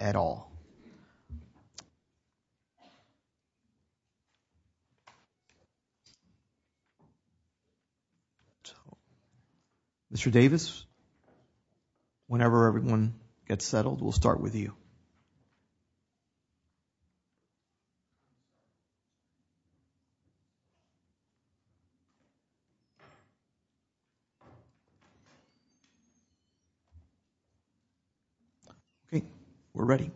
at all. Mr. Davis, whenever everyone gets settled, we'll start with you. Okay, we're ready.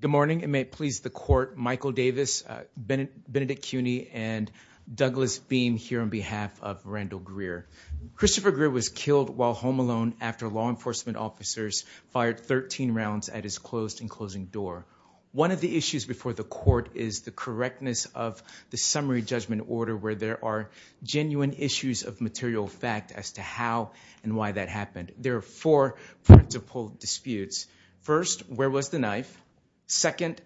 Good morning. It may please the court, Michael Davis, Benedict Cuny, and Douglas Beam here on behalf of Randall Greer. Christopher Greer was killed while home alone after law enforcement officers fired 13 rounds at his closed and closing door. One of the issues before the court is the correctness of the summary judgment order where there are genuine issues of how and why that happened. There are four principal disputes. First, where was the knife? Second,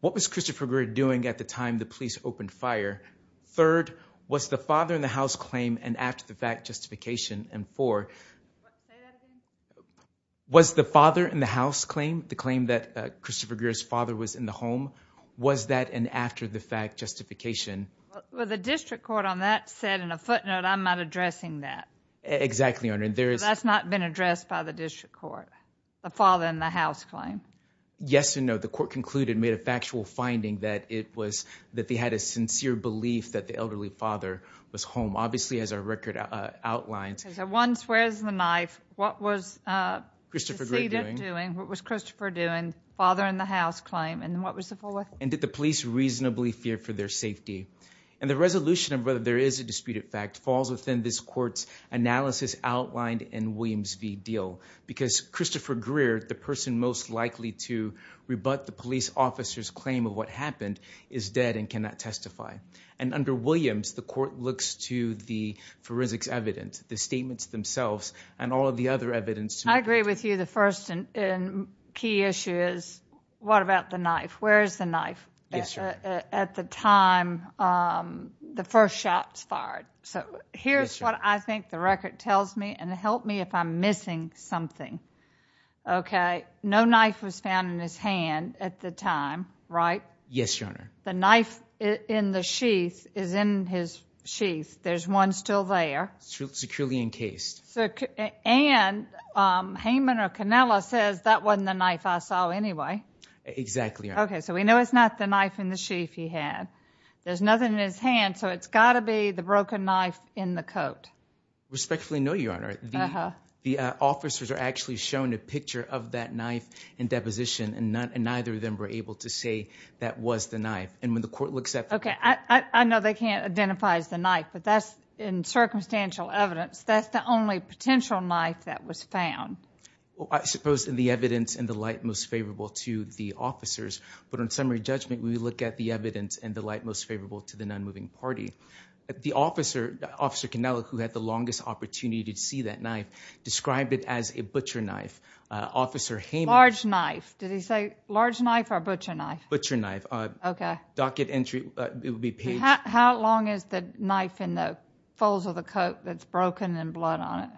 what was Christopher Greer doing at the time the police opened fire? Third, was the father-in-the-house claim an after-the-fact justification? And four, was the father-in-the-house claim, the claim that Christopher Greer's father was in the home, was that an after-the-fact justification? Well, the Exactly, Your Honor. That's not been addressed by the district court, the father-in-the-house claim? Yes and no. The court concluded, made a factual finding, that it was that they had a sincere belief that the elderly father was home. Obviously, as our record outlines. So once, where's the knife? What was Christopher Greer doing? What was Christopher doing? Father-in-the-house claim, and what was the full record? And did the police reasonably fear for their safety? And the resolution of whether there is a disputed fact falls within this court's analysis outlined in Williams v. Deal. Because Christopher Greer, the person most likely to rebut the police officer's claim of what happened, is dead and cannot testify. And under Williams, the court looks to the forensics evidence, the statements themselves, and all of the other evidence. I agree with you. The first and key issue is, what about the knife? Where is the knife? Yes, sir. At the time the first shots fired. So here's what I think the record tells me, and help me if I'm missing something. Okay, no knife was found in his hand at the time, right? Yes, your honor. The knife in the sheath is in his sheath. There's one still there. Securely encased. And Hayman or Canella says, that wasn't the knife I saw anyway. Exactly. Okay, so we know it's not the knife in the sheath he had. There's nothing in his hand, so it's got to be the broken knife in the coat. Respectfully no, your honor. The officers are actually shown a picture of that knife in deposition, and neither of them were able to say that was the knife. And when the court looks at... Okay, I know they can't identify as the knife, but that's in circumstantial evidence, that's the only potential knife that was found. I suppose in the evidence and the light most favorable to the officers, but on summary judgment, we look at the evidence and the light most favorable to the non-moving party. The officer, Officer Canella, who had the longest opportunity to see that knife, described it as a butcher knife. Officer Hayman... Large knife, did he say large knife or butcher knife? Butcher knife. Okay. Docket entry, it would be page... How long is the knife in the folds of the coat that's broken and blood on it?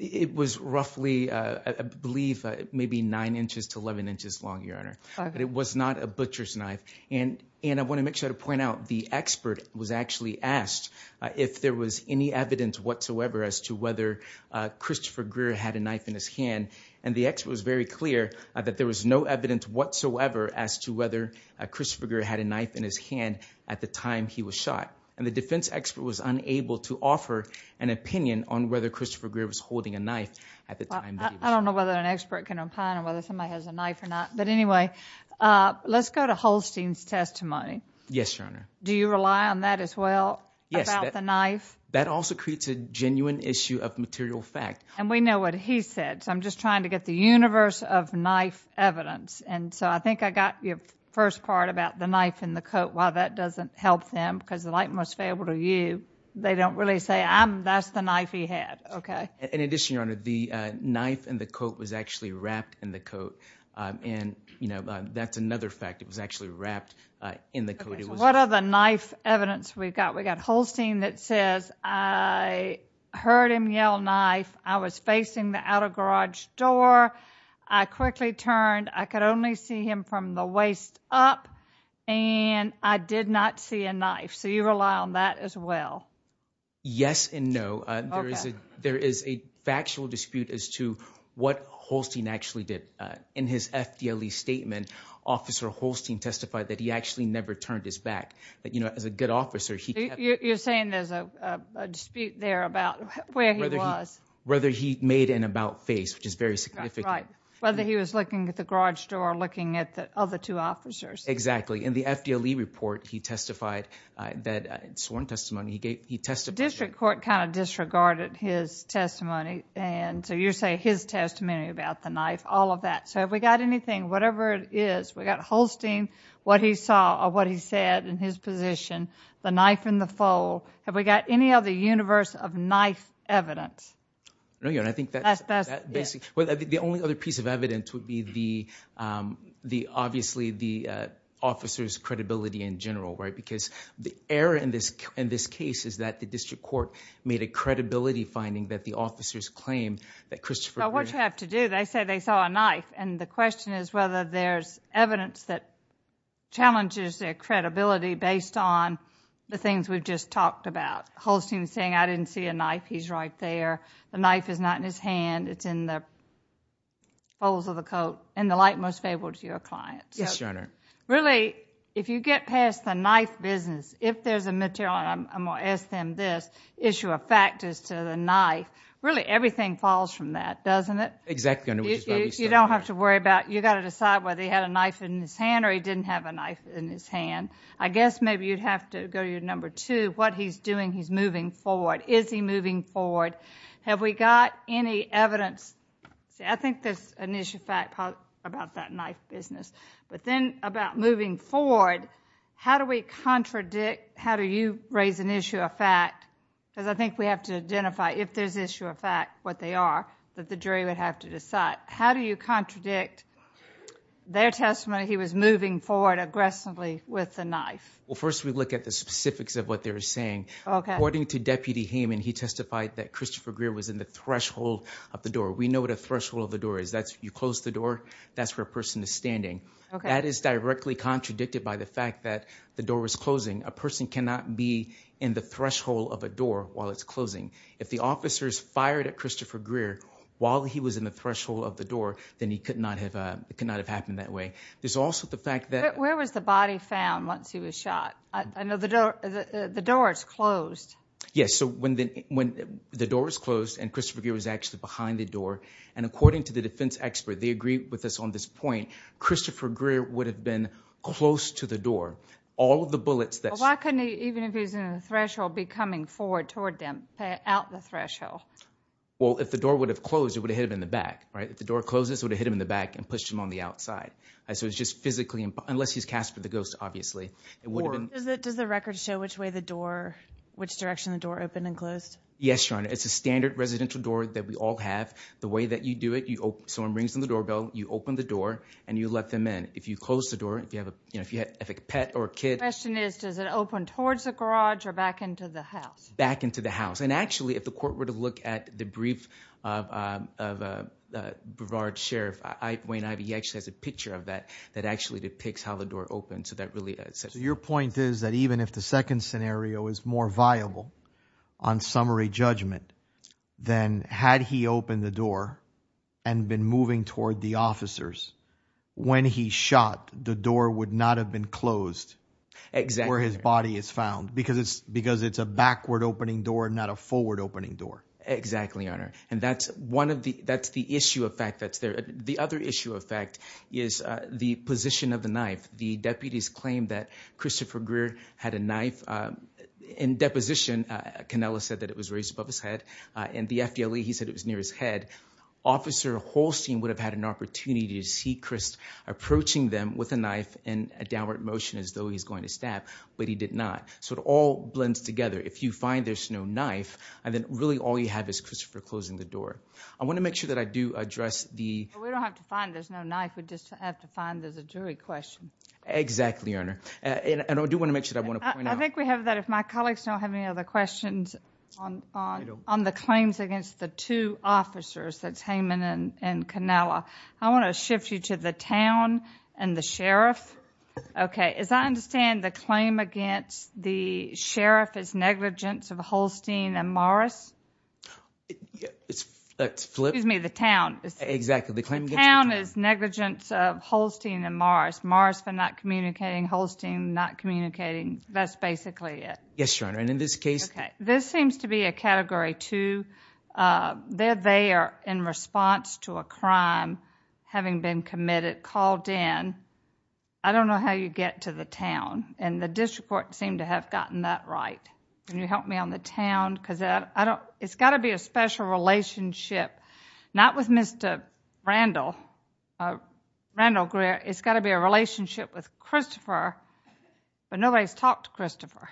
It was roughly, I believe, maybe 9 inches to 11 inches long, your honor. But it was not a butcher's knife. And I want to make sure to point out, the expert was actually asked if there was any evidence whatsoever as to whether Christopher Greer had a knife in his hand. And the expert was very clear that there was no evidence whatsoever as to whether Christopher Greer had a knife in his hand at the time he was shot. And the defense expert was unable to offer an answer as to whether Christopher Greer was holding a knife at the time. I don't know whether an expert can opine on whether somebody has a knife or not. But anyway, let's go to Holstein's testimony. Yes, your honor. Do you rely on that as well? Yes. About the knife? That also creates a genuine issue of material fact. And we know what he said, so I'm just trying to get the universe of knife evidence. And so I think I got your first part about the knife in the coat. While that doesn't help them, because the light must fail to you, they don't really say, that's the knife he had. Okay. In addition, your honor, the knife and the coat was actually wrapped in the coat. And, you know, that's another fact. It was actually wrapped in the coat. What are the knife evidence we've got? We got Holstein that says, I heard him yell knife. I was facing the outer garage door. I quickly turned. I could only see him from the waist up. And I did not see a knife. So you rely on that as well? Yes and no. There is a factual dispute as to what Holstein actually did. In his FDLE statement, Officer Holstein testified that he actually never turned his back. That, you know, as a good officer, he... You're saying there's a dispute there about where he was? Whether he made an about face, which is very significant. Right. Whether he was looking at the garage door, looking at the other two officers. Exactly. In the FDLE report, he testified that, sworn testimony, he testified... The district court kind of disregarded his testimony. And so you're saying his testimony about the knife, all of that. So have we got anything, whatever it is, we got Holstein, what he saw, or what he said in his position, the knife in the fold. Have we got any other universe of knife evidence? No, your honor. I think that's basically... Obviously the officer's credibility in general, right? Because the error in this case is that the district court made a credibility finding that the officers claimed that Christopher... Well, what you have to do, they say they saw a knife. And the question is whether there's evidence that challenges their credibility based on the things we've just talked about. Holstein saying, I didn't see a knife, he's right there. The knife is not in his hand, it's in the light most favorable to your clients. Yes, your honor. Really, if you get past the knife business, if there's a material, and I'm going to ask them this, issue of factors to the knife, really everything falls from that, doesn't it? Exactly. You don't have to worry about, you got to decide whether he had a knife in his hand or he didn't have a knife in his hand. I guess maybe you'd have to go to your number two, what he's doing, he's moving forward. Is he moving forward? Have we got any evidence? See, I think there's an issue of fact about that knife business. But then about moving forward, how do we contradict, how do you raise an issue of fact? Because I think we have to identify if there's issue of fact, what they are, that the jury would have to decide. How do you contradict their testimony, he was moving forward aggressively with the knife? Well, first we look at the specifics of what they're saying. Okay. According to Deputy Hayman, he testified that Christopher Greer was in the threshold of the door. We know what a threshold of the door is. That's, you close the door, that's where a person is standing. Okay. That is directly contradicted by the fact that the door was closing. A person cannot be in the threshold of a door while it's closing. If the officers fired at Christopher Greer while he was in the threshold of the door, then he could not have, it could not have happened that way. There's also the fact that... Where was the body found once he was shot? I know the door, the when the door was closed and Christopher Greer was actually behind the door, and according to the defense expert, they agree with us on this point, Christopher Greer would have been close to the door. All of the bullets that... Why couldn't he, even if he was in the threshold, be coming forward toward them, out the threshold? Well, if the door would have closed, it would have hit him in the back, right? If the door closes, it would have hit him in the back and pushed him on the outside. So, it's just physically, unless he's Casper the Ghost, obviously, it would have been... Does the record show which way the door, which direction the door opened and closed? Yes, Your Honor. It's a standard residential door that we all have. The way that you do it, you open, someone brings in the doorbell, you open the door, and you let them in. If you close the door, if you have a, you know, if you have a pet or a kid... The question is, does it open towards the garage or back into the house? Back into the house. And actually, if the court were to look at the brief of Brevard's sheriff, Wayne Ivey, he actually has a picture of that, that actually depicts how the door opened, so that really... So, your point is that even if the second scenario is more viable on summary judgment, then had he opened the door and been moving toward the officers, when he shot, the door would not have been closed. Exactly. Where his body is found. Because it's, because it's a backward opening door, not a forward opening door. Exactly, Your Honor. And that's one of the, that's the issue of fact that's there. The other issue of fact is the position of the knife. The deputies claimed that Christopher Greer had a knife in deposition. Cannella said that it was raised above his head. In the FDLE, he said it was near his head. Officer Holstein would have had an opportunity to see Chris approaching them with a knife in a downward motion as though he's going to stab, but he did not. So, it all blends together. If you find there's no knife, and then really all you have is Christopher closing the door. I want to make sure that I do address the... We don't have to find there's no knife, we just have to find there's a jury question. Exactly, Your Honor. And I do want to make sure I want to point out... I think we have that, if my colleagues don't have any other questions on the claims against the two officers, that's Heyman and Cannella, I want to shift you to the town and the sheriff. Okay, as I understand the claim against the sheriff is negligence of Exactly. The claim against the town is negligence of Holstein and Morris. Morris for not communicating, Holstein not communicating. That's basically it. Yes, Your Honor, and in this case... Okay, this seems to be a category two. They're there in response to a crime having been committed, called in. I don't know how you get to the town, and the district court seemed to have gotten that right. Can you help me on the relationship, not with Mr. Randall, Randall Greer, it's got to be a relationship with Christopher, but nobody's talked to Christopher.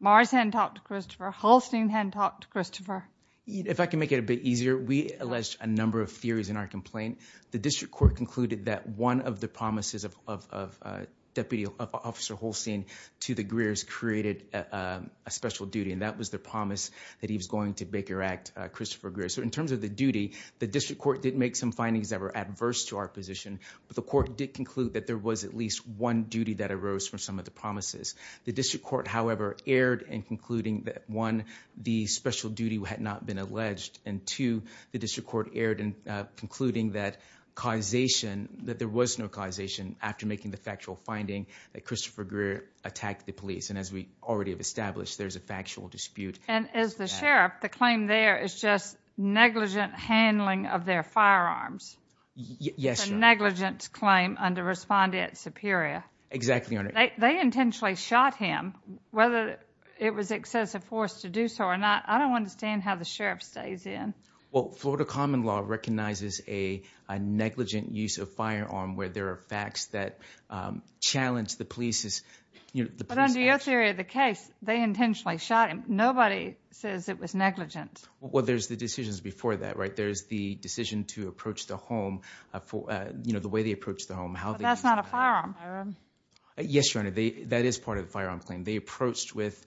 Morris hadn't talked to Christopher, Holstein hadn't talked to Christopher. If I can make it a bit easier, we alleged a number of theories in our complaint. The district court concluded that one of the promises of Deputy Officer Holstein to the Greers created a special duty, and that was the promise that he was going to direct Christopher Greer. So in terms of the duty, the district court did make some findings that were adverse to our position, but the court did conclude that there was at least one duty that arose from some of the promises. The district court, however, erred in concluding that one, the special duty had not been alleged, and two, the district court erred in concluding that causation, that there was no causation after making the factual finding that Christopher Greer attacked the police, and as we already have established, there's a factual dispute. And as the sheriff, the claim there is just negligent handling of their firearms. Yes, sir. It's a negligence claim under Respondent Superior. Exactly, Your Honor. They intentionally shot him, whether it was excessive force to do so or not, I don't understand how the sheriff stays in. Well, Florida common law recognizes a negligent use of firearm where there are facts that challenge the police's, you nobody says it was negligent. Well, there's the decisions before that, right? There's the decision to approach the home for, you know, the way they approach the home. That's not a firearm. Yes, Your Honor, that is part of the firearm claim. They approached with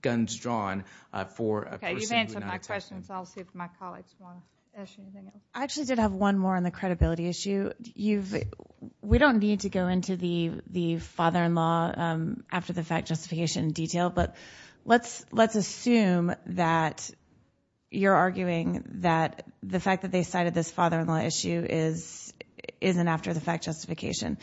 guns drawn for a person who did not attack them. Okay, you've answered my question, so I'll see if my colleagues want to ask you anything else. I actually did have one more on the credibility issue. We don't need to go into the the father-in-law after the fact justification in detail, but let's let's assume that you're arguing that the fact that they cited this father-in-law issue is isn't after the fact justification.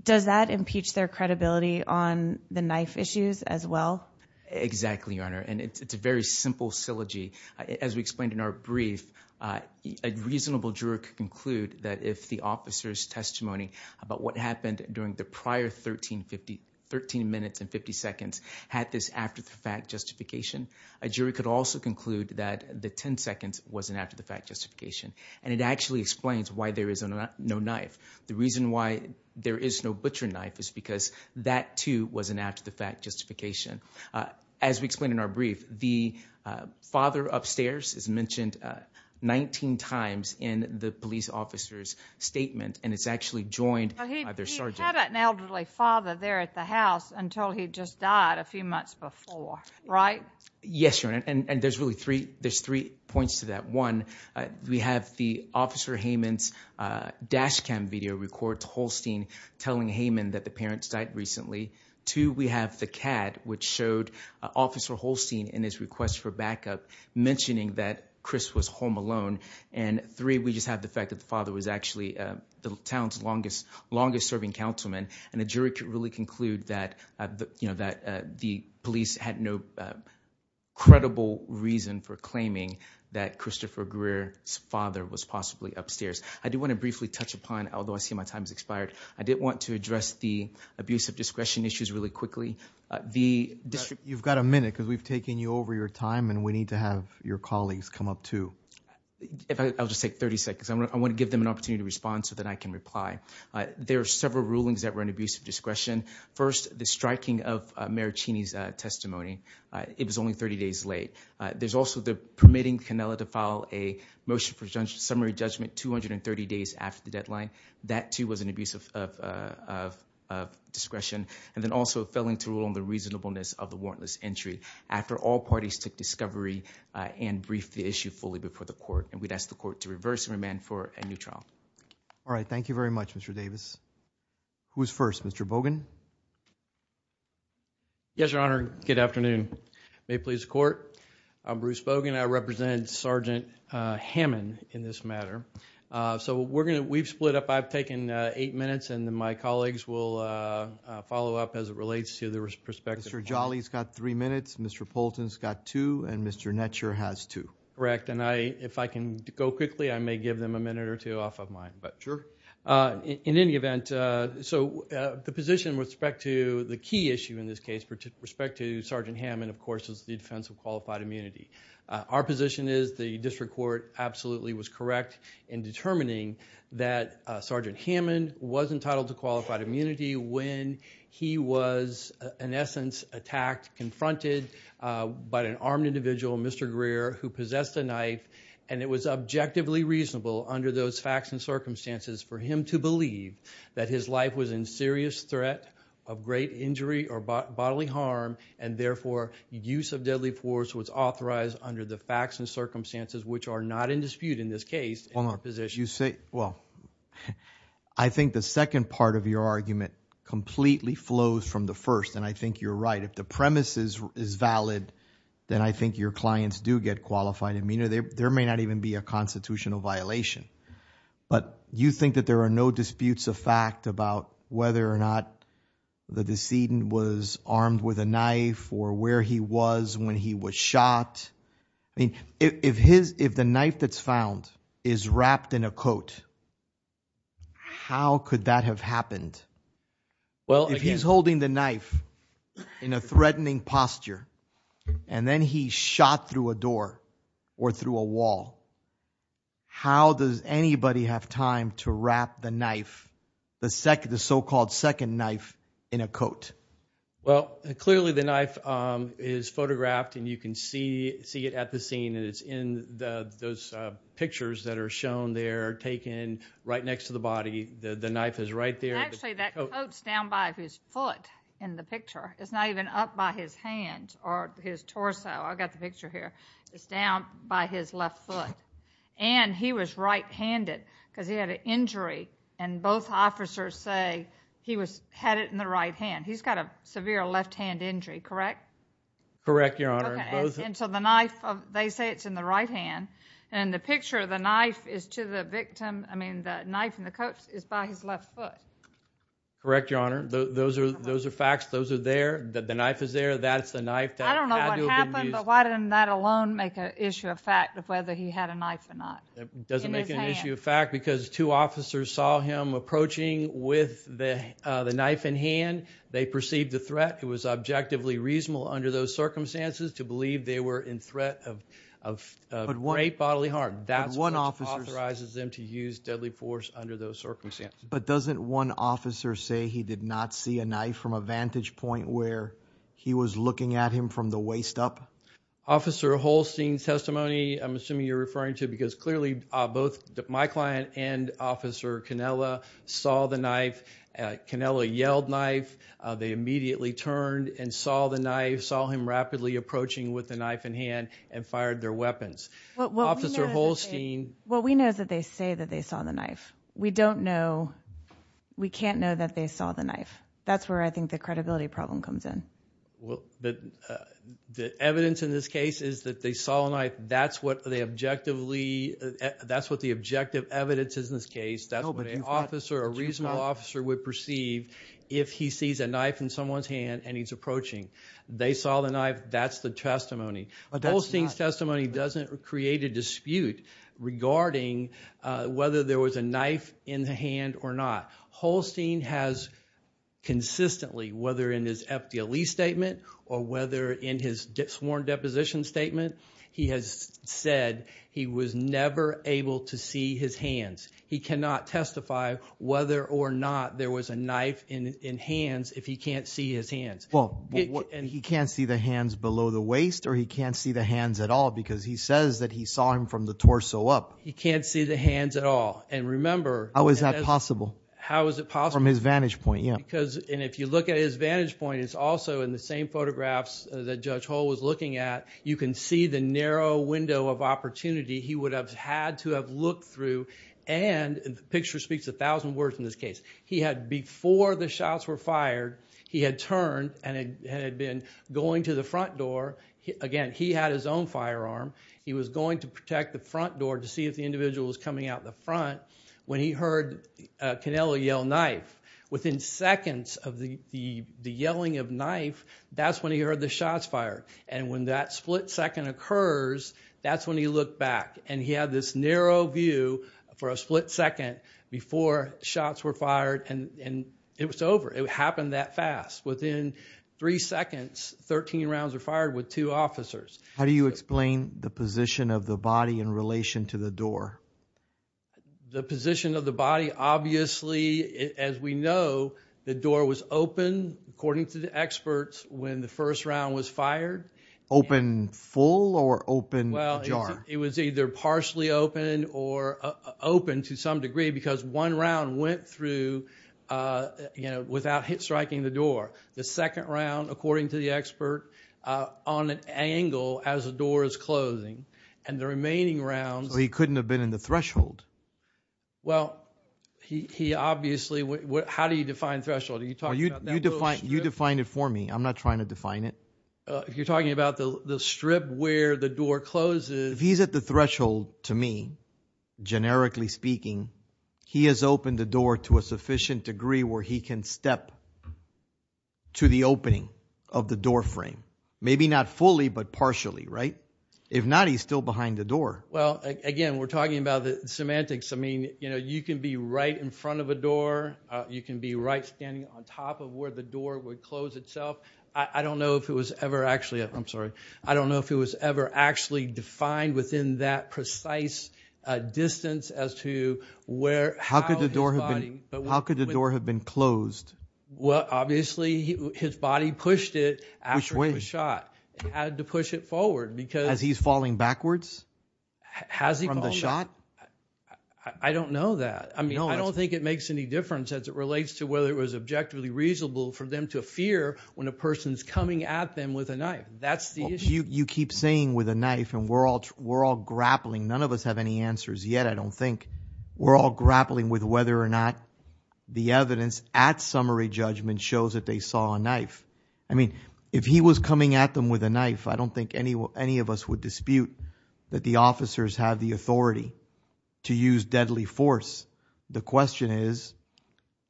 Does that impeach their credibility on the knife issues as well? Exactly, Your Honor, and it's a very simple syllogy. As we explained in our brief, a reasonable juror could conclude that if the officer's testimony about what happened during the prior 13 minutes and 50 seconds had this after-the-fact justification, a jury could also conclude that the 10 seconds wasn't after-the-fact justification, and it actually explains why there is no knife. The reason why there is no butcher knife is because that too was an after-the-fact justification. As we explained in our brief, the father upstairs is mentioned 19 times in the police officer's statement, and it's actually joined by their sergeant. He had an elderly father there at the house until he just died a few months before, right? Yes, Your Honor, and there's really three there's three points to that. One, we have the officer Heyman's dash cam video records Holstein telling Heyman that the parents died recently. Two, we have the CAD which showed officer Holstein in his request for backup mentioning that Chris was home alone, and three, we just have the fact that the father was actually the town's longest longest-serving councilman, and a jury could really conclude that, you know, that the police had no credible reason for claiming that Christopher Greer's father was possibly upstairs. I do want to briefly touch upon, although I see my time has expired, I did want to address the abuse of discretion issues really quickly. The district... You've got a minute because we've taken you over your time and we I'll just take 30 seconds. I want to give them an opportunity to respond so that I can reply. There are several rulings that were an abuse of discretion. First, the striking of Mayor Cheney's testimony. It was only 30 days late. There's also the permitting Canella to file a motion for summary judgment 230 days after the deadline. That too was an abuse of discretion, and then also failing to rule on the reasonableness of the warrantless entry after all parties took discovery and briefed the issue fully before the court, and we'd ask the court to reverse and remand for a new trial. All right, thank you very much, Mr. Davis. Who's first? Mr. Bogan. Yes, Your Honor. Good afternoon. May it please the court. I'm Bruce Bogan. I represent Sergeant Hammond in this matter. So we're gonna... We've split up. I've taken eight minutes and then my colleagues will follow up as it relates to the respective... Mr. Jolly's got three minutes, Mr. Poulton's got two, and Mr. Netscher has two. Correct, and I, if I can go quickly, I may give them a minute or two off of mine, but... Sure. In any event, so the position with respect to the key issue in this case, with respect to Sergeant Hammond, of course, is the defense of qualified immunity. Our position is the district court absolutely was correct in determining that Sergeant Hammond was entitled to qualified immunity when he was, in essence, attacked, confronted by an armed individual, Mr. Greer, who possessed a knife, and it was objectively reasonable under those facts and circumstances for him to believe that his life was in serious threat of great injury or bodily harm, and therefore use of deadly force was authorized under the facts and circumstances which are not in dispute in this case, in our position. Well, I think the second part of your argument completely flows from the first, and I think you're right. If the premise is valid, then I think your clients do get qualified immunity. There may not even be a constitutional violation, but you think that there are no disputes of fact about whether or not the decedent was armed with a knife or where he was when he was shot? I mean, if the knife that's found is wrapped in a coat, how could that have happened? Well, if he's holding the knife in a posture, and then he shot through a door or through a wall, how does anybody have time to wrap the knife, the so-called second knife, in a coat? Well, clearly the knife is photographed, and you can see it at the scene, and it's in those pictures that are shown there, taken right next to the body. The knife is right there. Actually, that coat's down by his foot in the picture. It's not even up by his hand or his torso. I've got the picture here. It's down by his left foot, and he was right-handed because he had an injury, and both officers say he had it in the right hand. He's got a severe left-hand injury, correct? Correct, Your Honor. And so the knife, they say it's in the right hand, and the picture of the knife is to the victim. I mean, the knife and the coat is by his left foot. Correct, Your Honor. Those are facts. Those are there. The knife is there. That's the knife that had to have been used. I don't know what happened, but why didn't that alone make an issue of fact of whether he had a knife or not? It doesn't make an issue of fact because two officers saw him approaching with the knife in hand. They perceived the threat. It was objectively reasonable under those circumstances to believe they were in threat of a great bodily harm. That's what authorizes them to use deadly force under those circumstances. But doesn't one officer say he did not see a knife from a vantage point where he was looking at him from the waist up? Officer Holstein's testimony, I'm assuming you're referring to because clearly both my client and Officer Canella saw the knife. Canella yelled, knife. They immediately turned and saw the knife, saw him rapidly approaching with the knife in hand, and fired their weapons. Officer Holstein... What we know is that they say that they saw the knife. We don't know, we can't know that they saw the knife. That's where I think the credibility problem comes in. Well, the evidence in this case is that they saw a knife. That's what they objectively, that's what the objective evidence is in this case. That's what an officer, a reasonable officer would perceive if he sees a knife in someone's hand and he's approaching. They saw the knife. That's the testimony. Holstein's testimony doesn't create a dispute regarding whether there was a knife in the hand or not. Holstein has consistently, whether in his FDLE statement or whether in his sworn deposition statement, he has said he was never able to see his hands. He cannot testify whether or not there was a knife in hands if he can't see his hands. Well, and he can't see the hands below the waist or he can't see the hands at all because he says that he saw them from the torso up. He can't see the hands at all and remember. How is that possible? How is it possible? From his vantage point, yeah. Because, and if you look at his vantage point, it's also in the same photographs that Judge Hull was looking at. You can see the narrow window of opportunity he would have had to have looked through and the picture speaks a thousand words in this case. He had, before the shots were fired, he had turned and had been going to the front door. Again, he had his own firearm. He was going to protect the front door to see if the individual was coming out the front when he heard Canelo yell knife. Within seconds of the yelling of knife, that's when he heard the shots fired and when that split second occurs, that's when he looked back and he had this narrow view for a split second before shots were fired and it was over. It How do you explain the position of the body in relation to the door? The position of the body, obviously, as we know, the door was open according to the experts when the first round was fired. Open full or open jar? Well, it was either partially open or open to some degree because one round went through, you know, without striking the door. The second round, according to the expert, on an angle as the door is closing and the remaining rounds... So he couldn't have been in the threshold? Well, he obviously... How do you define threshold? Are you talking about that little strip? You define it for me. I'm not trying to define it. If you're talking about the strip where the door closes... If he's at the threshold, to me, generically speaking, he has opened the door to a sufficient degree where he can step to the opening of the doorframe. Maybe not fully, but partially, right? If not, he's still behind the door. Well, again, we're talking about the semantics. I mean, you know, you can be right in front of a door. You can be right standing on top of where the door would close itself. I don't know if it was ever actually... I'm sorry. I don't know if it was ever actually defined within that precise distance as to where... How could the door have been closed? Well, obviously, his body pushed it after it was shot. It had to push it forward because... Has he's falling backwards from the shot? I don't know that. I mean, I don't think it makes any difference as it relates to whether it was objectively reasonable for them to fear when a person's coming at them with a knife. That's the issue. You keep saying with a knife and we're all grappling. None of us have any answers yet, I don't think. We're all grappling with whether or not the evidence at summary judgment shows that they saw a knife. I mean, if he was coming at them with a knife, I don't think any of us would dispute that the officers have the authority to use deadly force. The question is,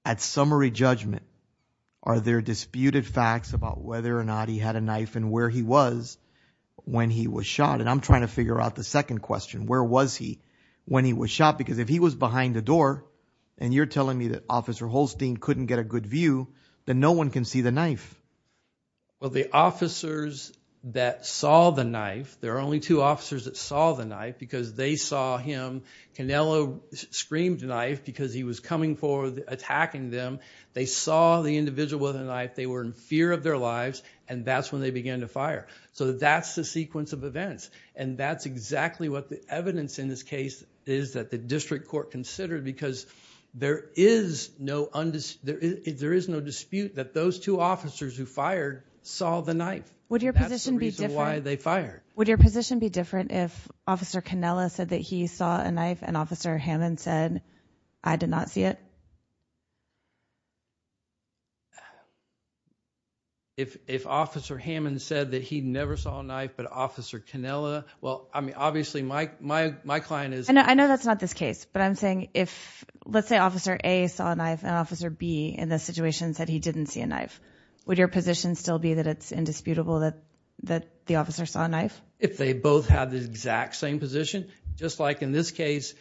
at summary judgment, are there disputed facts about whether or not he had a knife and where he was when he was shot? And I'm trying to figure out the second question. Where was he when he was shot? Because if he was behind the door and you're telling me that Officer Holstein couldn't get a good view, then no one can see the knife. Well, the officers that saw the knife, there are only two officers that saw the knife because they saw him. Canelo screamed knife because he was coming forward, attacking them. They saw the individual with a knife, they were in fear of their lives, and that's when they began to fire. So that's the sequence of events. And that's exactly what the evidence in this case is that the district court considered because there is no dispute that those two officers who fired saw the knife. Would your position be different if Officer Canelo said that he saw a knife and Officer Hammond said I did not see it? If Officer Hammond said that he never saw a knife, but Officer Canelo, well, I mean, obviously my client is... I know that's not this case, but I'm saying if, let's say, Officer A saw a knife and Officer B in this situation said he didn't see a knife, would your position still be that it's indisputable that the officer saw a knife? If they both had the exact same position, just like in this case,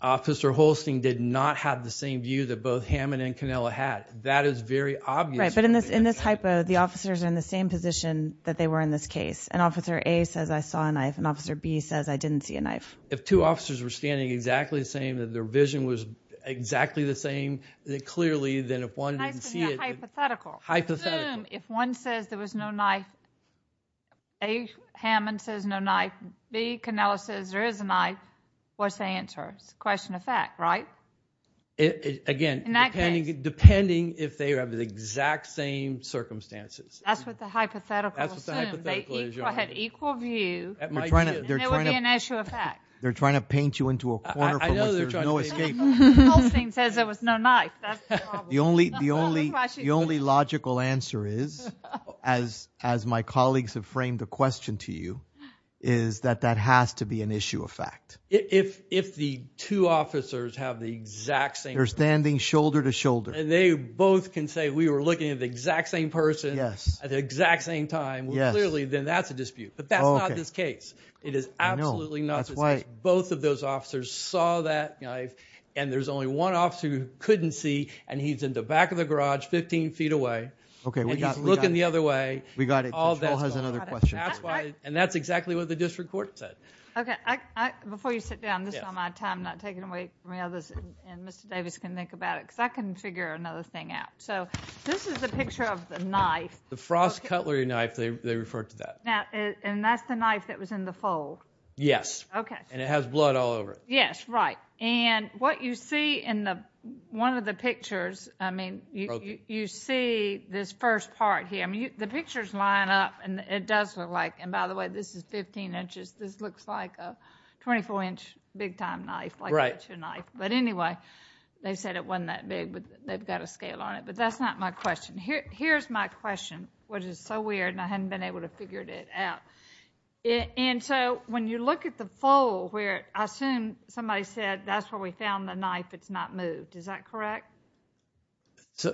Officer Holstein did not have the same view that both Hammond and Canelo had, that is very obvious. Right, but in this hypo, the officers are in the same position that they were in this case, and Officer A says I saw a knife and Officer B says I didn't see a knife. If two officers were standing exactly the same, that their vision was exactly the same, clearly, then if one didn't see it... Hypothetical. Hypothetical. If one says there was no knife, A, Hammond says no knife, B, Canelo says there is a knife, what's the answer? It's a question of fact, right? Again, depending if they have the exact same circumstances. That's what the hypothetical assumes. That's what the hypothetical assumes. They had equal view. They're trying to paint you into a corner from which there's no escape. Officer Holstein says there was no knife, that's the problem. The only logical answer is, as my colleagues have framed the question to you, is that that has to be an issue of fact. If the two officers have the exact same... They're standing shoulder to shoulder. And they both can say we were looking at the exact same person at the exact same time, clearly, then that's a dispute, but that's not this case. It is absolutely not this case. Both of those officers saw that knife, and there's only one officer who couldn't see, and he's in the back of the garage, 15 feet away, and he's looking the other way. And that's exactly what the district court said. Okay, before you sit down, this is all my time, not taking away from the others, and Mr. Davis can think about it, because I can figure another thing out. So this is the picture of the knife. The frost cutlery knife, they refer to that. Now, and that's the knife that was in the fold? Yes, and it has blood all over it. Yes, right. And what you see in one of the pictures, I mean, you see this first part here. I mean, the pictures line up, and it does look like, and by the way, this is 15 inches. This looks like a 24-inch big-time knife, like butcher knife. But anyway, they said it wasn't that big, but they've got a scale on it. But that's not my question. Here's my question, which is so weird, and I hadn't been able to figure it out. And so when you look at the fold where, I assume, somebody said that's where we found the knife. It's not moved. Is that correct?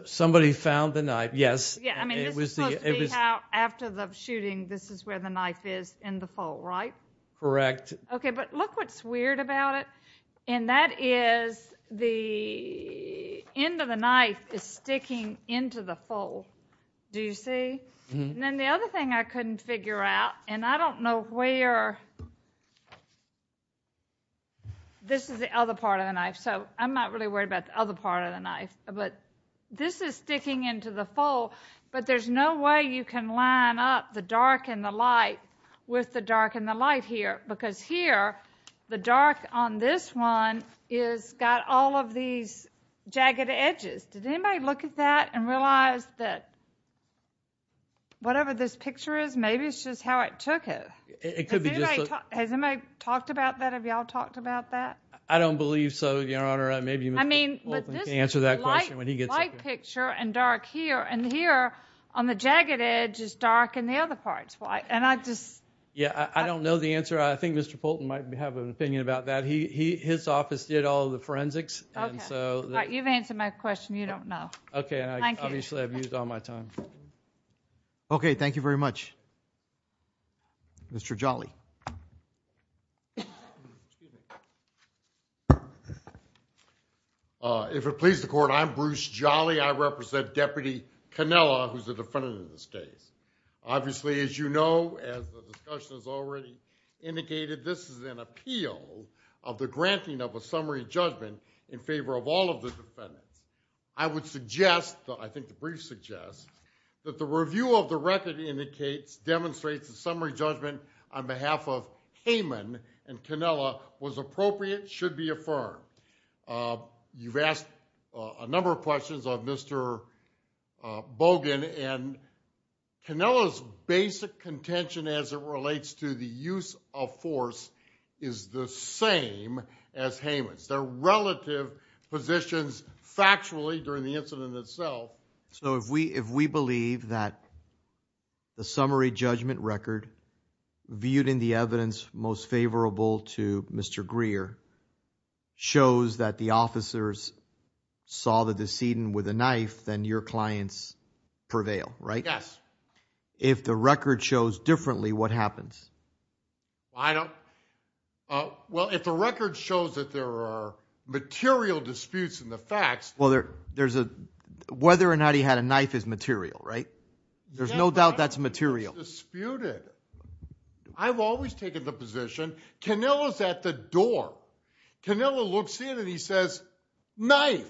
Somebody found the knife, yes. Yeah, I mean, this must be how, after the shooting, this is where the knife is in the fold, right? Correct. Okay, but look what's weird about it, and that is the end of the knife is sticking into the fold. Do you see? And then the other thing I couldn't figure out, and I don't know where, this is the other part of the knife, so I'm not really worried about the other part of the knife, but this is sticking into the fold. But there's no way you can line up the dark and the light with the dark and the light here, because here, the dark on this one has got all of these jagged edges. Did anybody look at that and realize that whatever this picture is, maybe it's just how it took it? Has anybody talked about that? Have y'all talked about that? I don't believe so, Your Honor. Maybe Mr. Poulton can answer that question when he gets up here. But this is a light picture and dark here, and here on the jagged edge is dark and the other part's white, and I just... Yeah, I don't know the answer. I think Mr. Poulton might have an opinion about that. His office did all the forensics, and so... You've answered my question. You don't know. Okay, and obviously, I've used all my time. Okay, thank you very much. Mr. Jolly. If it pleases the Court, I'm Bruce Jolly. I represent Deputy Cannella, who's the defendant in this case. Obviously, as you know, as the discussion has already indicated, this is an appeal of the granting of a summary judgment in favor of all of the defendants. I would suggest, though I think the brief suggests, that the review of the record demonstrates the summary judgment on behalf of Kamen and Cannella was appropriate, should be affirmed. You've asked a number of questions of Mr. Bogan, and Cannella's basic contention as it relates to the use of force is the same as Haman's. Their relative positions, factually, during the incident itself... So if we believe that the summary judgment record, viewed in the evidence most favorable to Mr. Greer, shows that the officers saw the decedent with a knife, then your clients prevail, right? Yes. If the record shows differently, what happens? I don't... Well, if the record shows that there are material disputes in the facts... Well, there's a... Whether or not he had a knife is material, right? There's no doubt that's material. It's disputed. I've always taken the position Cannella's at the door. Cannella looks in and he says, Knife!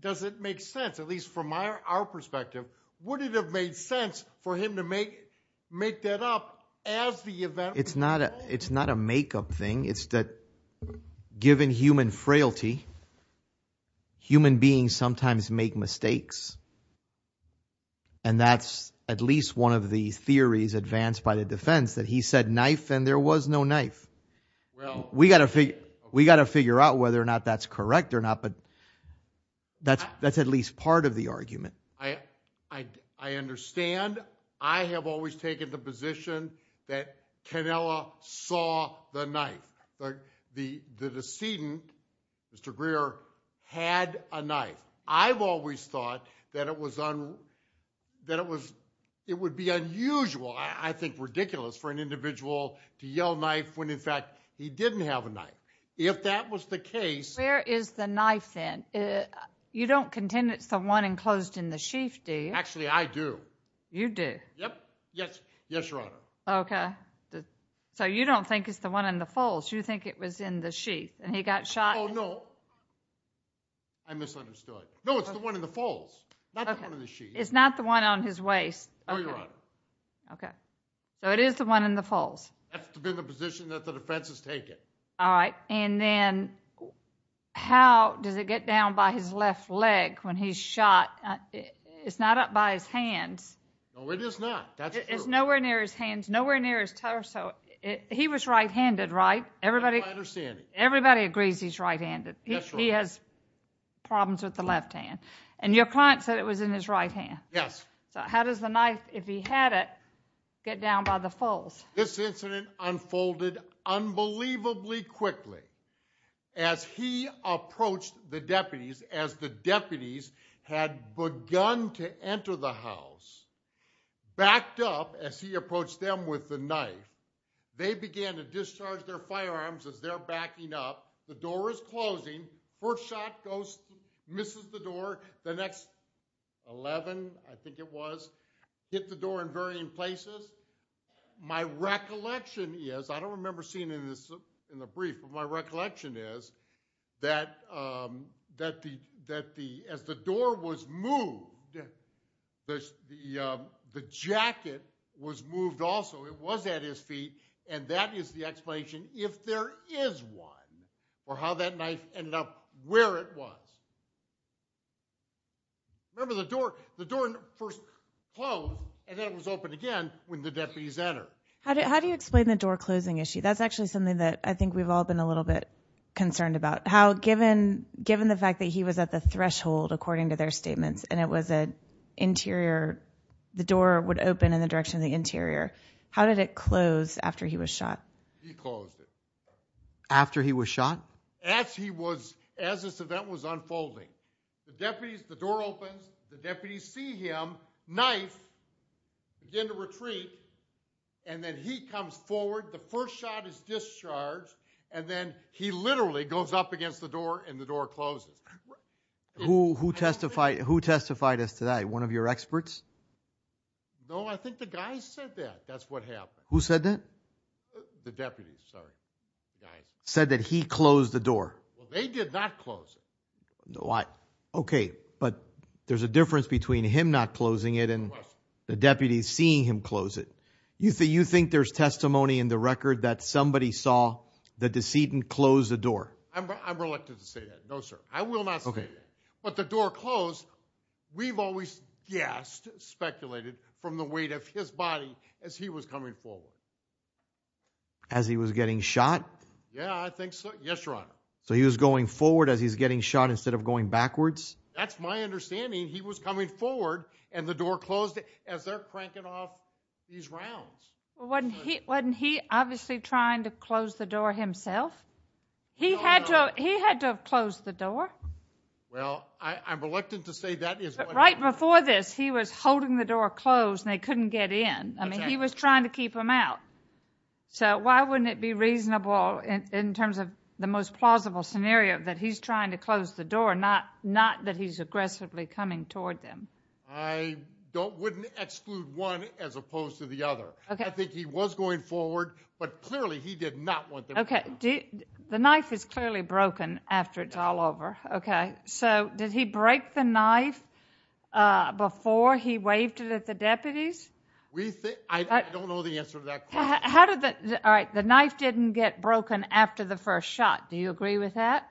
Does it make sense, at least from our perspective? Would it have made sense for him to make that up as the event... It's not a make-up thing. It's that given human frailty, human beings sometimes make mistakes. And that's at least one of the theories advanced by the defense, that he said knife and there was no knife. We got to figure out whether or not that's correct or not, but that's at least part of the argument. I understand. I have always taken the position that Cannella saw the knife. The decedent, Mr. Greer, had a knife. I've always thought that it would be unusual, I think ridiculous, for an individual to yell knife when, in fact, he didn't have a knife. If that was the case... Where is the knife then? You don't contend it's the one enclosed in the sheath, do you? Actually, I do. You do? Yep. Yes. Yes, Your Honor. Okay. So you don't think it's the one in the folds? You think it was in the sheath and he got shot? Oh, no. I misunderstood. No, it's the one in the folds, not the one in the sheath. It's not the one on his waist? No, Your Honor. Okay. So it is the one in the folds? That's been the position that the defense has taken. All right. And then how does it get down by his left leg when he's shot? It's not up by his hands. No, it is not. That's true. It's nowhere near his hands, nowhere near his torso. He was right-handed, right? Everybody agrees he's right-handed. He has problems with the left hand. And your client said it was in his right hand. Yes. So how does the knife, if he had it, get down by the folds? This incident unfolded unbelievably quickly. As he approached the deputies, as the deputies had begun to enter the house, backed up as he approached them with the knife, they began to discharge their firearms as they're backing up. The door is closing. First shot goes, misses the door. The next 11, I think it was, hit the door in varying places. My recollection is, I don't remember seeing this in the brief, but my recollection is that as the door was moved, the jacket was moved also. It was at his feet. And that is the explanation if there is one, or how that knife ended up where it was. Remember the door, the door first closed, and then it was open again when the deputies entered. How do you explain the door closing issue? That's actually something that I think we've all been a little bit concerned about. How, given the fact that he was at the threshold, according to their statements, and it was an interior, the door would open in the direction of the interior, how did it close after he was shot? He closed it. After he was shot? As he was, as this event was unfolding. The deputies, the door opens, the deputies see him, knife, begin to retreat, and then he comes forward, the first shot is discharged, and then he literally goes up against the door and the door closes. Who testified, who testified as to that? One of your experts? No, I think the guy said that. That's what happened. Who said that? The deputies, sorry. Said that he closed the door. They did not close it. Why? Okay, but there's a difference between him not closing it and the deputies seeing him close it. You think there's testimony in the record that somebody saw the decedent close the door? I'm reluctant to say that, no sir. I will not say that. But the door closed, we've always, yes, speculated from the weight of his body as he was coming forward. As he was getting shot? Yeah, I think so. Yes, your honor. So he was going forward as he's getting shot instead of going backwards? That's my understanding. He was coming forward and the door closed as they're cranking off these rounds. Well, wasn't he obviously trying to close the door himself? He had to have closed the door. Well, I'm reluctant to say that. Right before this, he was holding the door closed and they couldn't get in. I mean, he was trying to keep them out. So why wouldn't it be reasonable, in terms of the most plausible scenario, that he's trying to close the door, not that he's aggressively coming toward them? I wouldn't exclude one as opposed to the other. I think he was going forward, but clearly he did not want them. Okay, the knife is clearly broken after it's all over. Okay, so did he break the knife before he waved it at the deputies? We think—I don't know the answer to that question. How did the—all right, the knife didn't get broken after the first shot. Do you agree with that?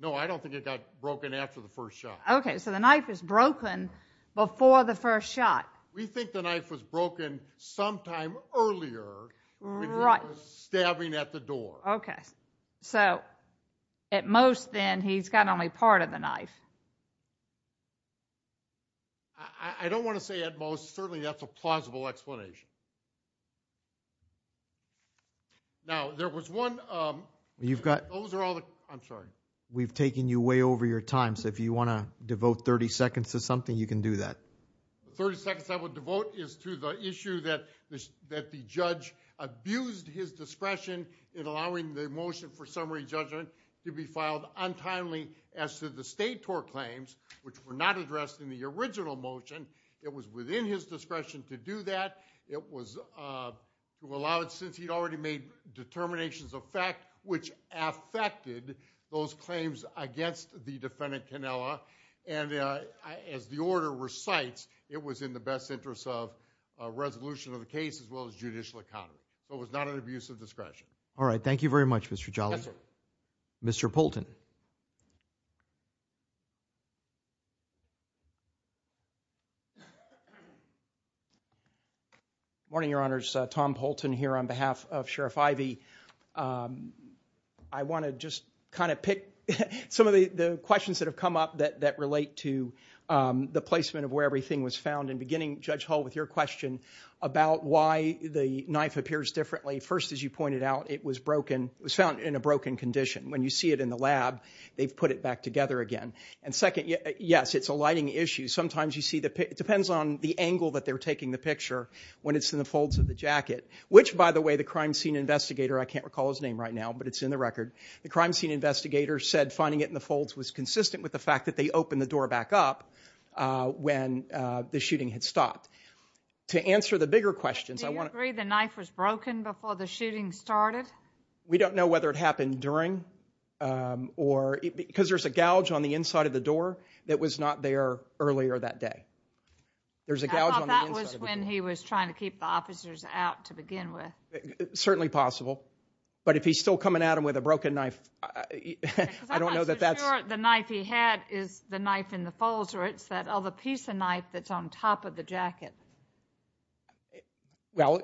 No, I don't think it got broken after the first shot. Okay, so the knife is broken before the first shot. We think the knife was broken sometime earlier when he was stabbing at the door. Okay, so at most, then, he's got only part of the knife. I don't want to say at most. Certainly, that's a plausible explanation. Now, there was one— You've got— Those are all the—I'm sorry. We've taken you way over your time, so if you want to devote 30 seconds to something, you can do that. 30 seconds I would devote is to the issue that the judge abused his discretion in allowing the motion for summary judgment to be filed untimely as to the state tort claims, which were not addressed in the original motion. It was within his discretion to do that. It was allowed since he'd already made determinations of fact, which affected those claims against the defendant, Cannella. And as the order recites, it was in the best interest of resolution of the case as well as judicial account. So it was not an abuse of discretion. All right, thank you very much, Mr. Jollison. Yes, sir. Mr. Poulton. Good morning, Your Honors. Tom Poulton here on behalf of Sheriff Ivey. I want to just kind of pick some of the questions that have come up that relate to the placement of where everything was found. And beginning, Judge Hull, with your question about why the knife appears differently. First, as you pointed out, it was broken. It was found in a broken condition. When you see it in the lab, they've put it back together again. And second, yes, it's a lighting issue. Sometimes you see that it depends on the angle that they're taking the picture when it's in the folds of the jacket. Which, by the way, the crime scene investigator, I can't recall his name right now, but it's in the record. The crime scene investigator said finding it in the folds was consistent with the fact that they opened the door back up when the shooting had stopped. To answer the bigger questions, I want to- Do you agree the knife was broken before the shooting started? We don't know whether it happened during or- Because there's a gouge on the inside of the door that was not there earlier that day. There's a gouge on the inside of the door. I thought that was when he was trying to keep the officers out to begin with. Certainly possible. But if he's still coming at them with a broken knife, I don't know that that's- Because I'm not so sure the knife he had is the knife in the folds of the jacket. Well,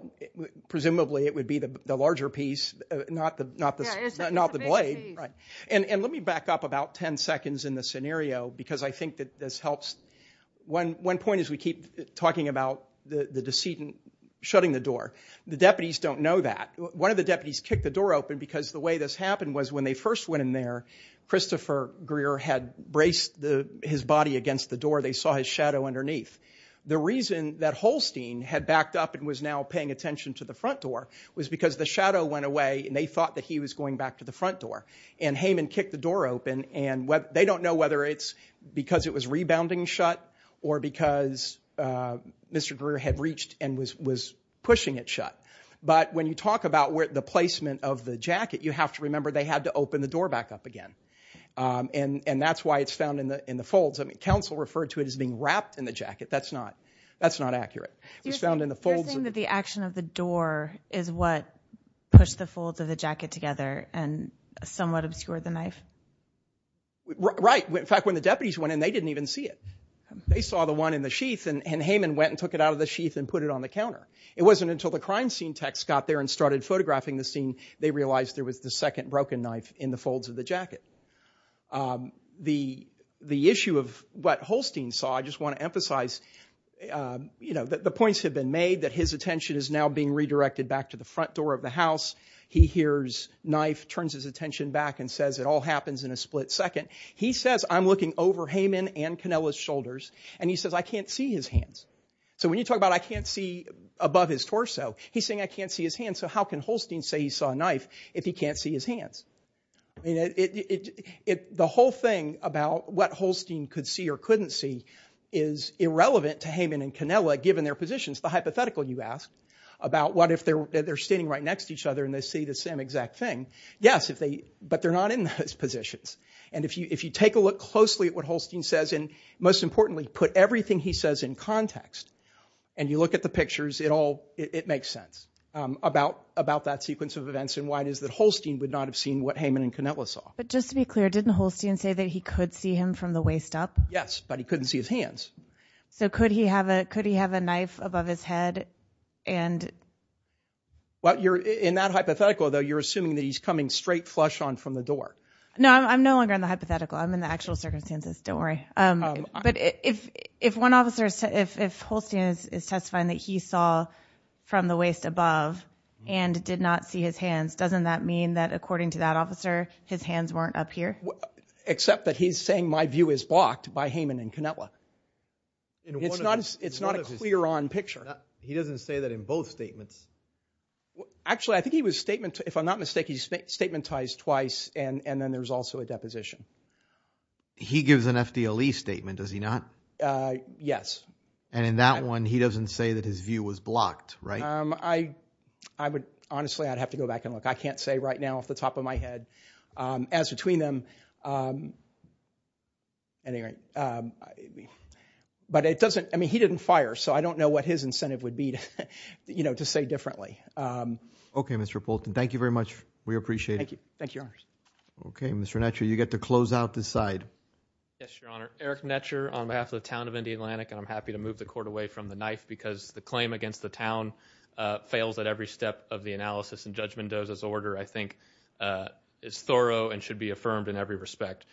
presumably it would be the larger piece, not the blade. And let me back up about 10 seconds in the scenario because I think that this helps. One point is we keep talking about the decedent shutting the door. The deputies don't know that. One of the deputies kicked the door open because the way this happened was when they first went in there, Christopher Greer had braced his body against the door. They saw his shadow underneath. The reason that Holstein had backed up and was now paying attention to the front door was because the shadow went away and they thought that he was going back to the front door. And Heyman kicked the door open. And they don't know whether it's because it was rebounding shut or because Mr. Greer had reached and was pushing it shut. But when you talk about the placement of the jacket, you have to remember they had to open the door back up again. And that's why it's found in the folds. Counsel referred to it as being wrapped in the jacket. That's not accurate. It was found in the folds. You're saying that the action of the door is what pushed the folds of the jacket together and somewhat obscured the knife? Right. In fact, when the deputies went in, they didn't even see it. They saw the one in the sheath and Heyman went and took it out of the sheath and put it on the counter. It wasn't until the crime scene techs got there and started photographing the scene they realized there was the second broken knife in the folds of the jacket. The issue of what Holstein saw, I just want to emphasize that the points have been made that his attention is now being redirected back to the front door of the house. He hears Knife turns his attention back and says, it all happens in a split second. He says, I'm looking over Heyman and Canella's shoulders. And he says, I can't see his hands. So when you talk about I can't see above his torso, he's saying I can't see his hands. So how can Holstein say he saw a knife if he can't see his hands? I mean, the whole thing about what Holstein could see or couldn't see is irrelevant to Heyman and Canella, given their positions. The hypothetical, you ask, about what if they're standing right next to each other and they see the same exact thing. Yes, but they're not in those positions. And if you take a look closely at what Holstein says, and most importantly, put everything he says in context, and you look at the pictures, it makes sense about that sequence of events and why it is that Holstein would not have seen what Heyman and Canella saw. But just to be clear, didn't Holstein say that he could see him from the waist up? Yes, but he couldn't see his hands. So could he have a knife above his head? Well, in that hypothetical, though, you're assuming that he's coming straight flush on from the door. No, I'm no longer in the hypothetical. I'm in the actual circumstances. Don't worry. But if one officer, if Holstein is testifying that he saw from the waist above and did not see his hands, doesn't that mean that according to that officer, his hands weren't up here? Except that he's saying my view is blocked by Heyman and Canella. It's not a clear on picture. He doesn't say that in both statements. Actually, I think he was statement, if I'm not mistaken, he's statementized twice. And then there's also a deposition. He gives an FDLE statement, does he not? Yes. And in that one, he doesn't say that his view was blocked, right? I would honestly, I'd have to go back and look. I can't say right now off the top of my head as between them. Anyway, but it doesn't I mean, he didn't fire. So I don't know what his incentive would be, you know, to say differently. OK, Mr. Bolton, thank you very much. We appreciate it. Thank you. OK, Mr. Natcher, you get to close out the side. Yes, Your Honor. Eric Natcher on behalf of the town of Indian Atlantic. And I'm happy to move the court away from the knife because the claim against the town fails at every step of the analysis. And Judge Mendoza's order, I think, is thorough and should be affirmed in every respect.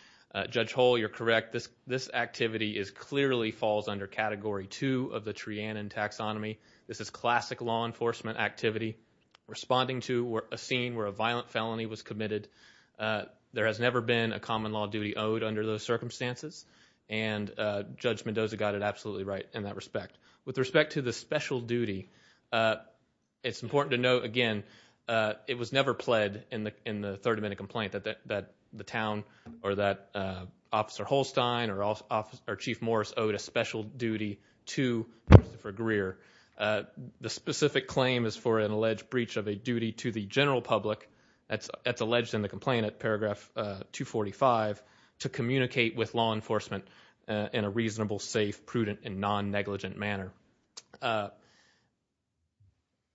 Judge Hull, you're correct. This this activity is clearly falls under Category two of the Trianon taxonomy. This is classic law enforcement activity, responding to a scene where a violent felony was committed. There has never been a common law duty owed under those circumstances. And Judge Mendoza got it absolutely right in that respect. With respect to the special duty, it's important to note, again, it was never pled in the in the 30 minute complaint that the town or that Officer Holstein or Chief Morris owed a special duty to Christopher Greer. The specific claim is for an alleged breach of a duty to the general public that's alleged in the complaint at paragraph 245 to communicate with law enforcement in a reasonable, safe, prudent, and non-negligent manner.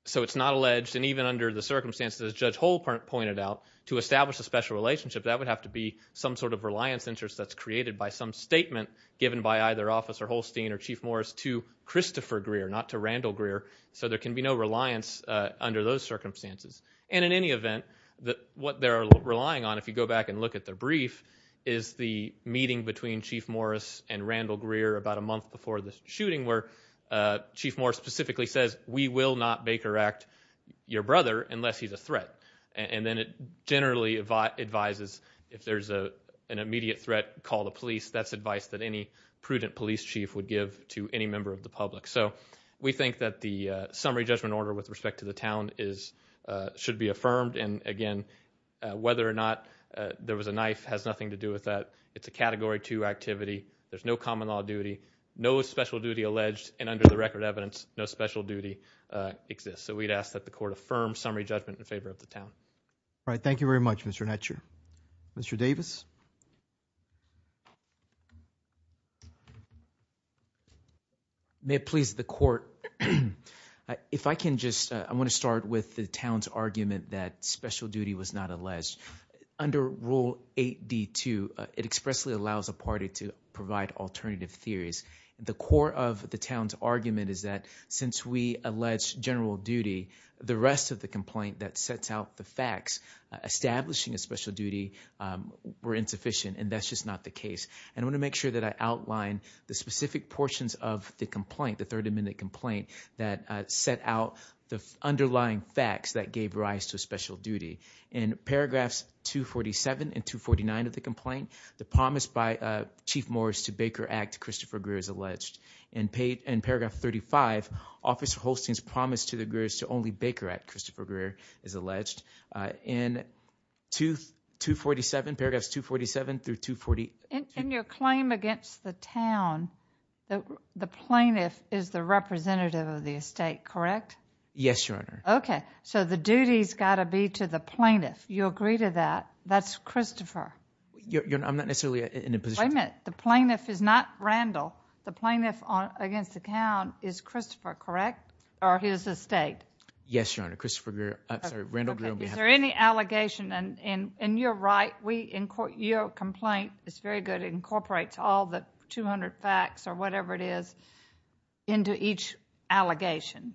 So it's not alleged. And even under the circumstances, as Judge Hull pointed out, to establish a special relationship, that would have to be some sort of reliance interest that's created by some statement given by either Officer Holstein or Chief Morris to Christopher Greer, not to Randall Greer. So there can be no reliance under those circumstances. And in any event, what they're relying on, if you go back and look at the brief, is the the shooting where Chief Morris specifically says, we will not Baker Act your brother unless he's a threat. And then it generally advises if there's an immediate threat, call the police. That's advice that any prudent police chief would give to any member of the public. So we think that the summary judgment order with respect to the town should be affirmed. And again, whether or not there was a knife has nothing to do with that. It's a Category 2 activity. There's no common law duty. No special duty alleged. And under the record evidence, no special duty exists. So we'd ask that the court affirm summary judgment in favor of the town. All right. Thank you very much, Mr. Hatcher. Mr. Davis. May it please the court. If I can just I want to start with the town's argument that special duty was not alleged under Rule 8D2. It expressly allows a party to provide alternative theories. The core of the town's argument is that since we allege general duty, the rest of the complaint that sets out the facts establishing a special duty were insufficient. And that's just not the case. And I want to make sure that I outline the specific portions of the complaint, the Third Amendment complaint that set out the underlying facts that gave rise to special duty. In paragraphs 247 and 249 of the complaint, the promise by Chief Morris to Baker Act, Christopher Greer, is alleged. In paragraph 35, Officer Holstein's promise to the Greers to only Baker Act, Christopher Greer, is alleged. In paragraphs 247 through 248. In your claim against the town, the plaintiff is the representative of the estate, correct? Yes, Your Honor. Okay. So the duty's got to be to the plaintiff. You agree to that? That's Christopher. I'm not necessarily in a position. Wait a minute. The plaintiff is not Randall. The plaintiff against the town is Christopher, correct? Or his estate? Yes, Your Honor. Christopher Greer. I'm sorry. Randall Greer. Is there any allegation? And you're right, your complaint is very good. It incorporates all the 200 facts or whatever it is into each allegation.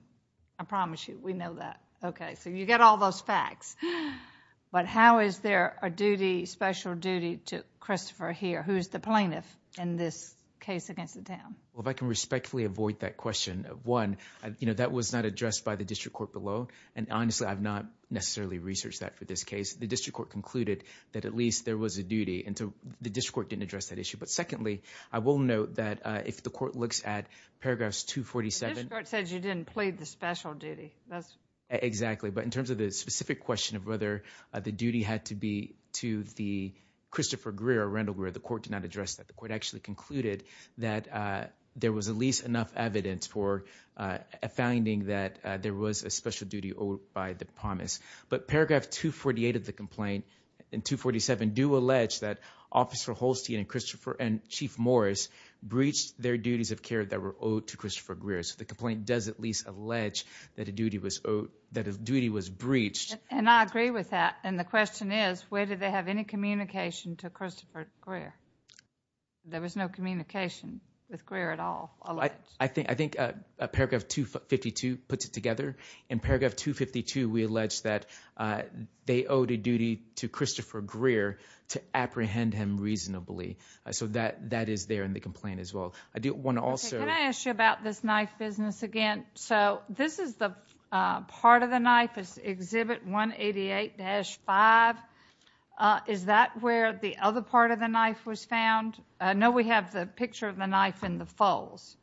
I promise you. We know that. Okay. So you get all those facts. But how is there a duty, special duty, to Christopher here, who's the plaintiff in this case against the town? Well, if I can respectfully avoid that question. One, you know, that was not addressed by the district court below. And honestly, I've not necessarily researched that for this case. The district court concluded that at least there was a duty. And so the district court didn't address that issue. But secondly, I will note that if the court looks at paragraphs 247. The district court says you didn't plead the special duty. Exactly. But in terms of the specific question of whether the duty had to be to Christopher Greer or Randall Greer, the court did not address that. The court actually concluded that there was at least enough evidence for a finding that there was a special duty owed by the promise. But paragraph 248 of the complaint and 247 do allege that Officer Holstein and Chief Morris breached their duties of care that were owed to Christopher Greer. The complaint does at least allege that a duty was breached. And I agree with that. And the question is, where did they have any communication to Christopher Greer? There was no communication with Greer at all. I think paragraph 252 puts it together. In paragraph 252, we allege that they owed a duty to Christopher Greer to apprehend him reasonably. So that is there in the complaint as well. Can I ask you about this knife business again? This is the part of the knife. It's exhibit 188-5. Is that where the other part of the knife was found? No, we have the picture of the knife in the folds.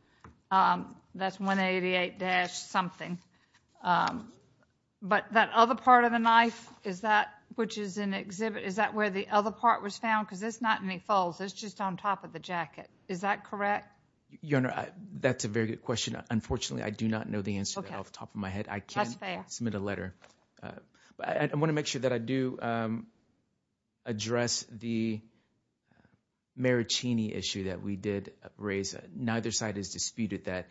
That's 188-something. But that other part of the knife, is that where the other part was found? Because there's not any folds. It's just on top of the jacket. Is that correct? Your Honor, that's a very good question. Unfortunately, I do not know the answer off the top of my head. I can't submit a letter. I want to make sure that I do address the Maricini issue that we did raise. Neither side has disputed that.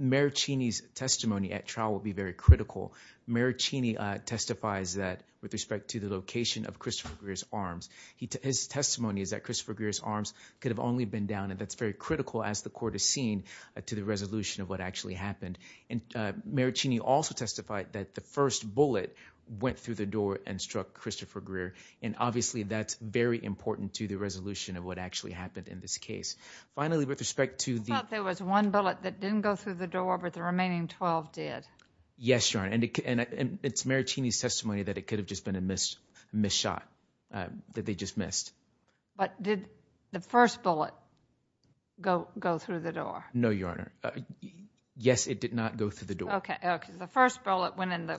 Maricini's testimony at trial will be very critical. Maricini testifies that with respect to the location of Christopher Greer's arms. His testimony is that Christopher Greer's arms could have only been down. That's very critical, as the court has seen, to the resolution of what actually happened. Maricini also testified that the first bullet went through the door and struck Christopher Greer. Obviously, that's very important to the resolution of what actually happened in this case. Finally, with respect to the- I thought there was one bullet that didn't go through the door, but the remaining 12 did. Yes, Your Honor. It's Maricini's testimony that it could have just been a missed shot, that they just missed. But did the first bullet go through the door? No, Your Honor. Yes, it did not go through the door. Okay, okay. The first bullet went in the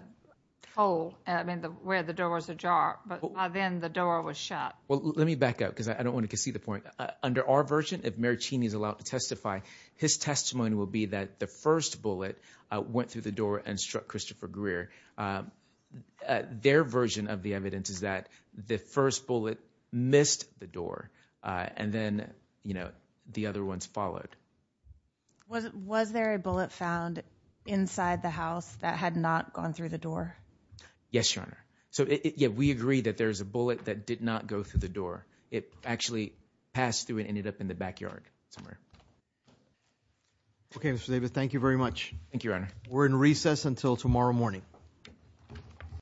hole, I mean, where the door was ajar. But by then, the door was shut. Well, let me back up, because I don't want to concede the point. Under our version, if Maricini is allowed to testify, his testimony will be that the first bullet went through the door and struck Christopher Greer. Their version of the evidence is that the first bullet missed the door, and then, you know, the other ones followed. Was there a bullet found inside the house that had not gone through the door? Yes, Your Honor. So, yeah, we agree that there's a bullet that did not go through the door. It actually passed through and ended up in the backyard somewhere. Okay, Mr. Davis, thank you very much. Thank you, Your Honor. We're in recess until tomorrow morning. Thank you.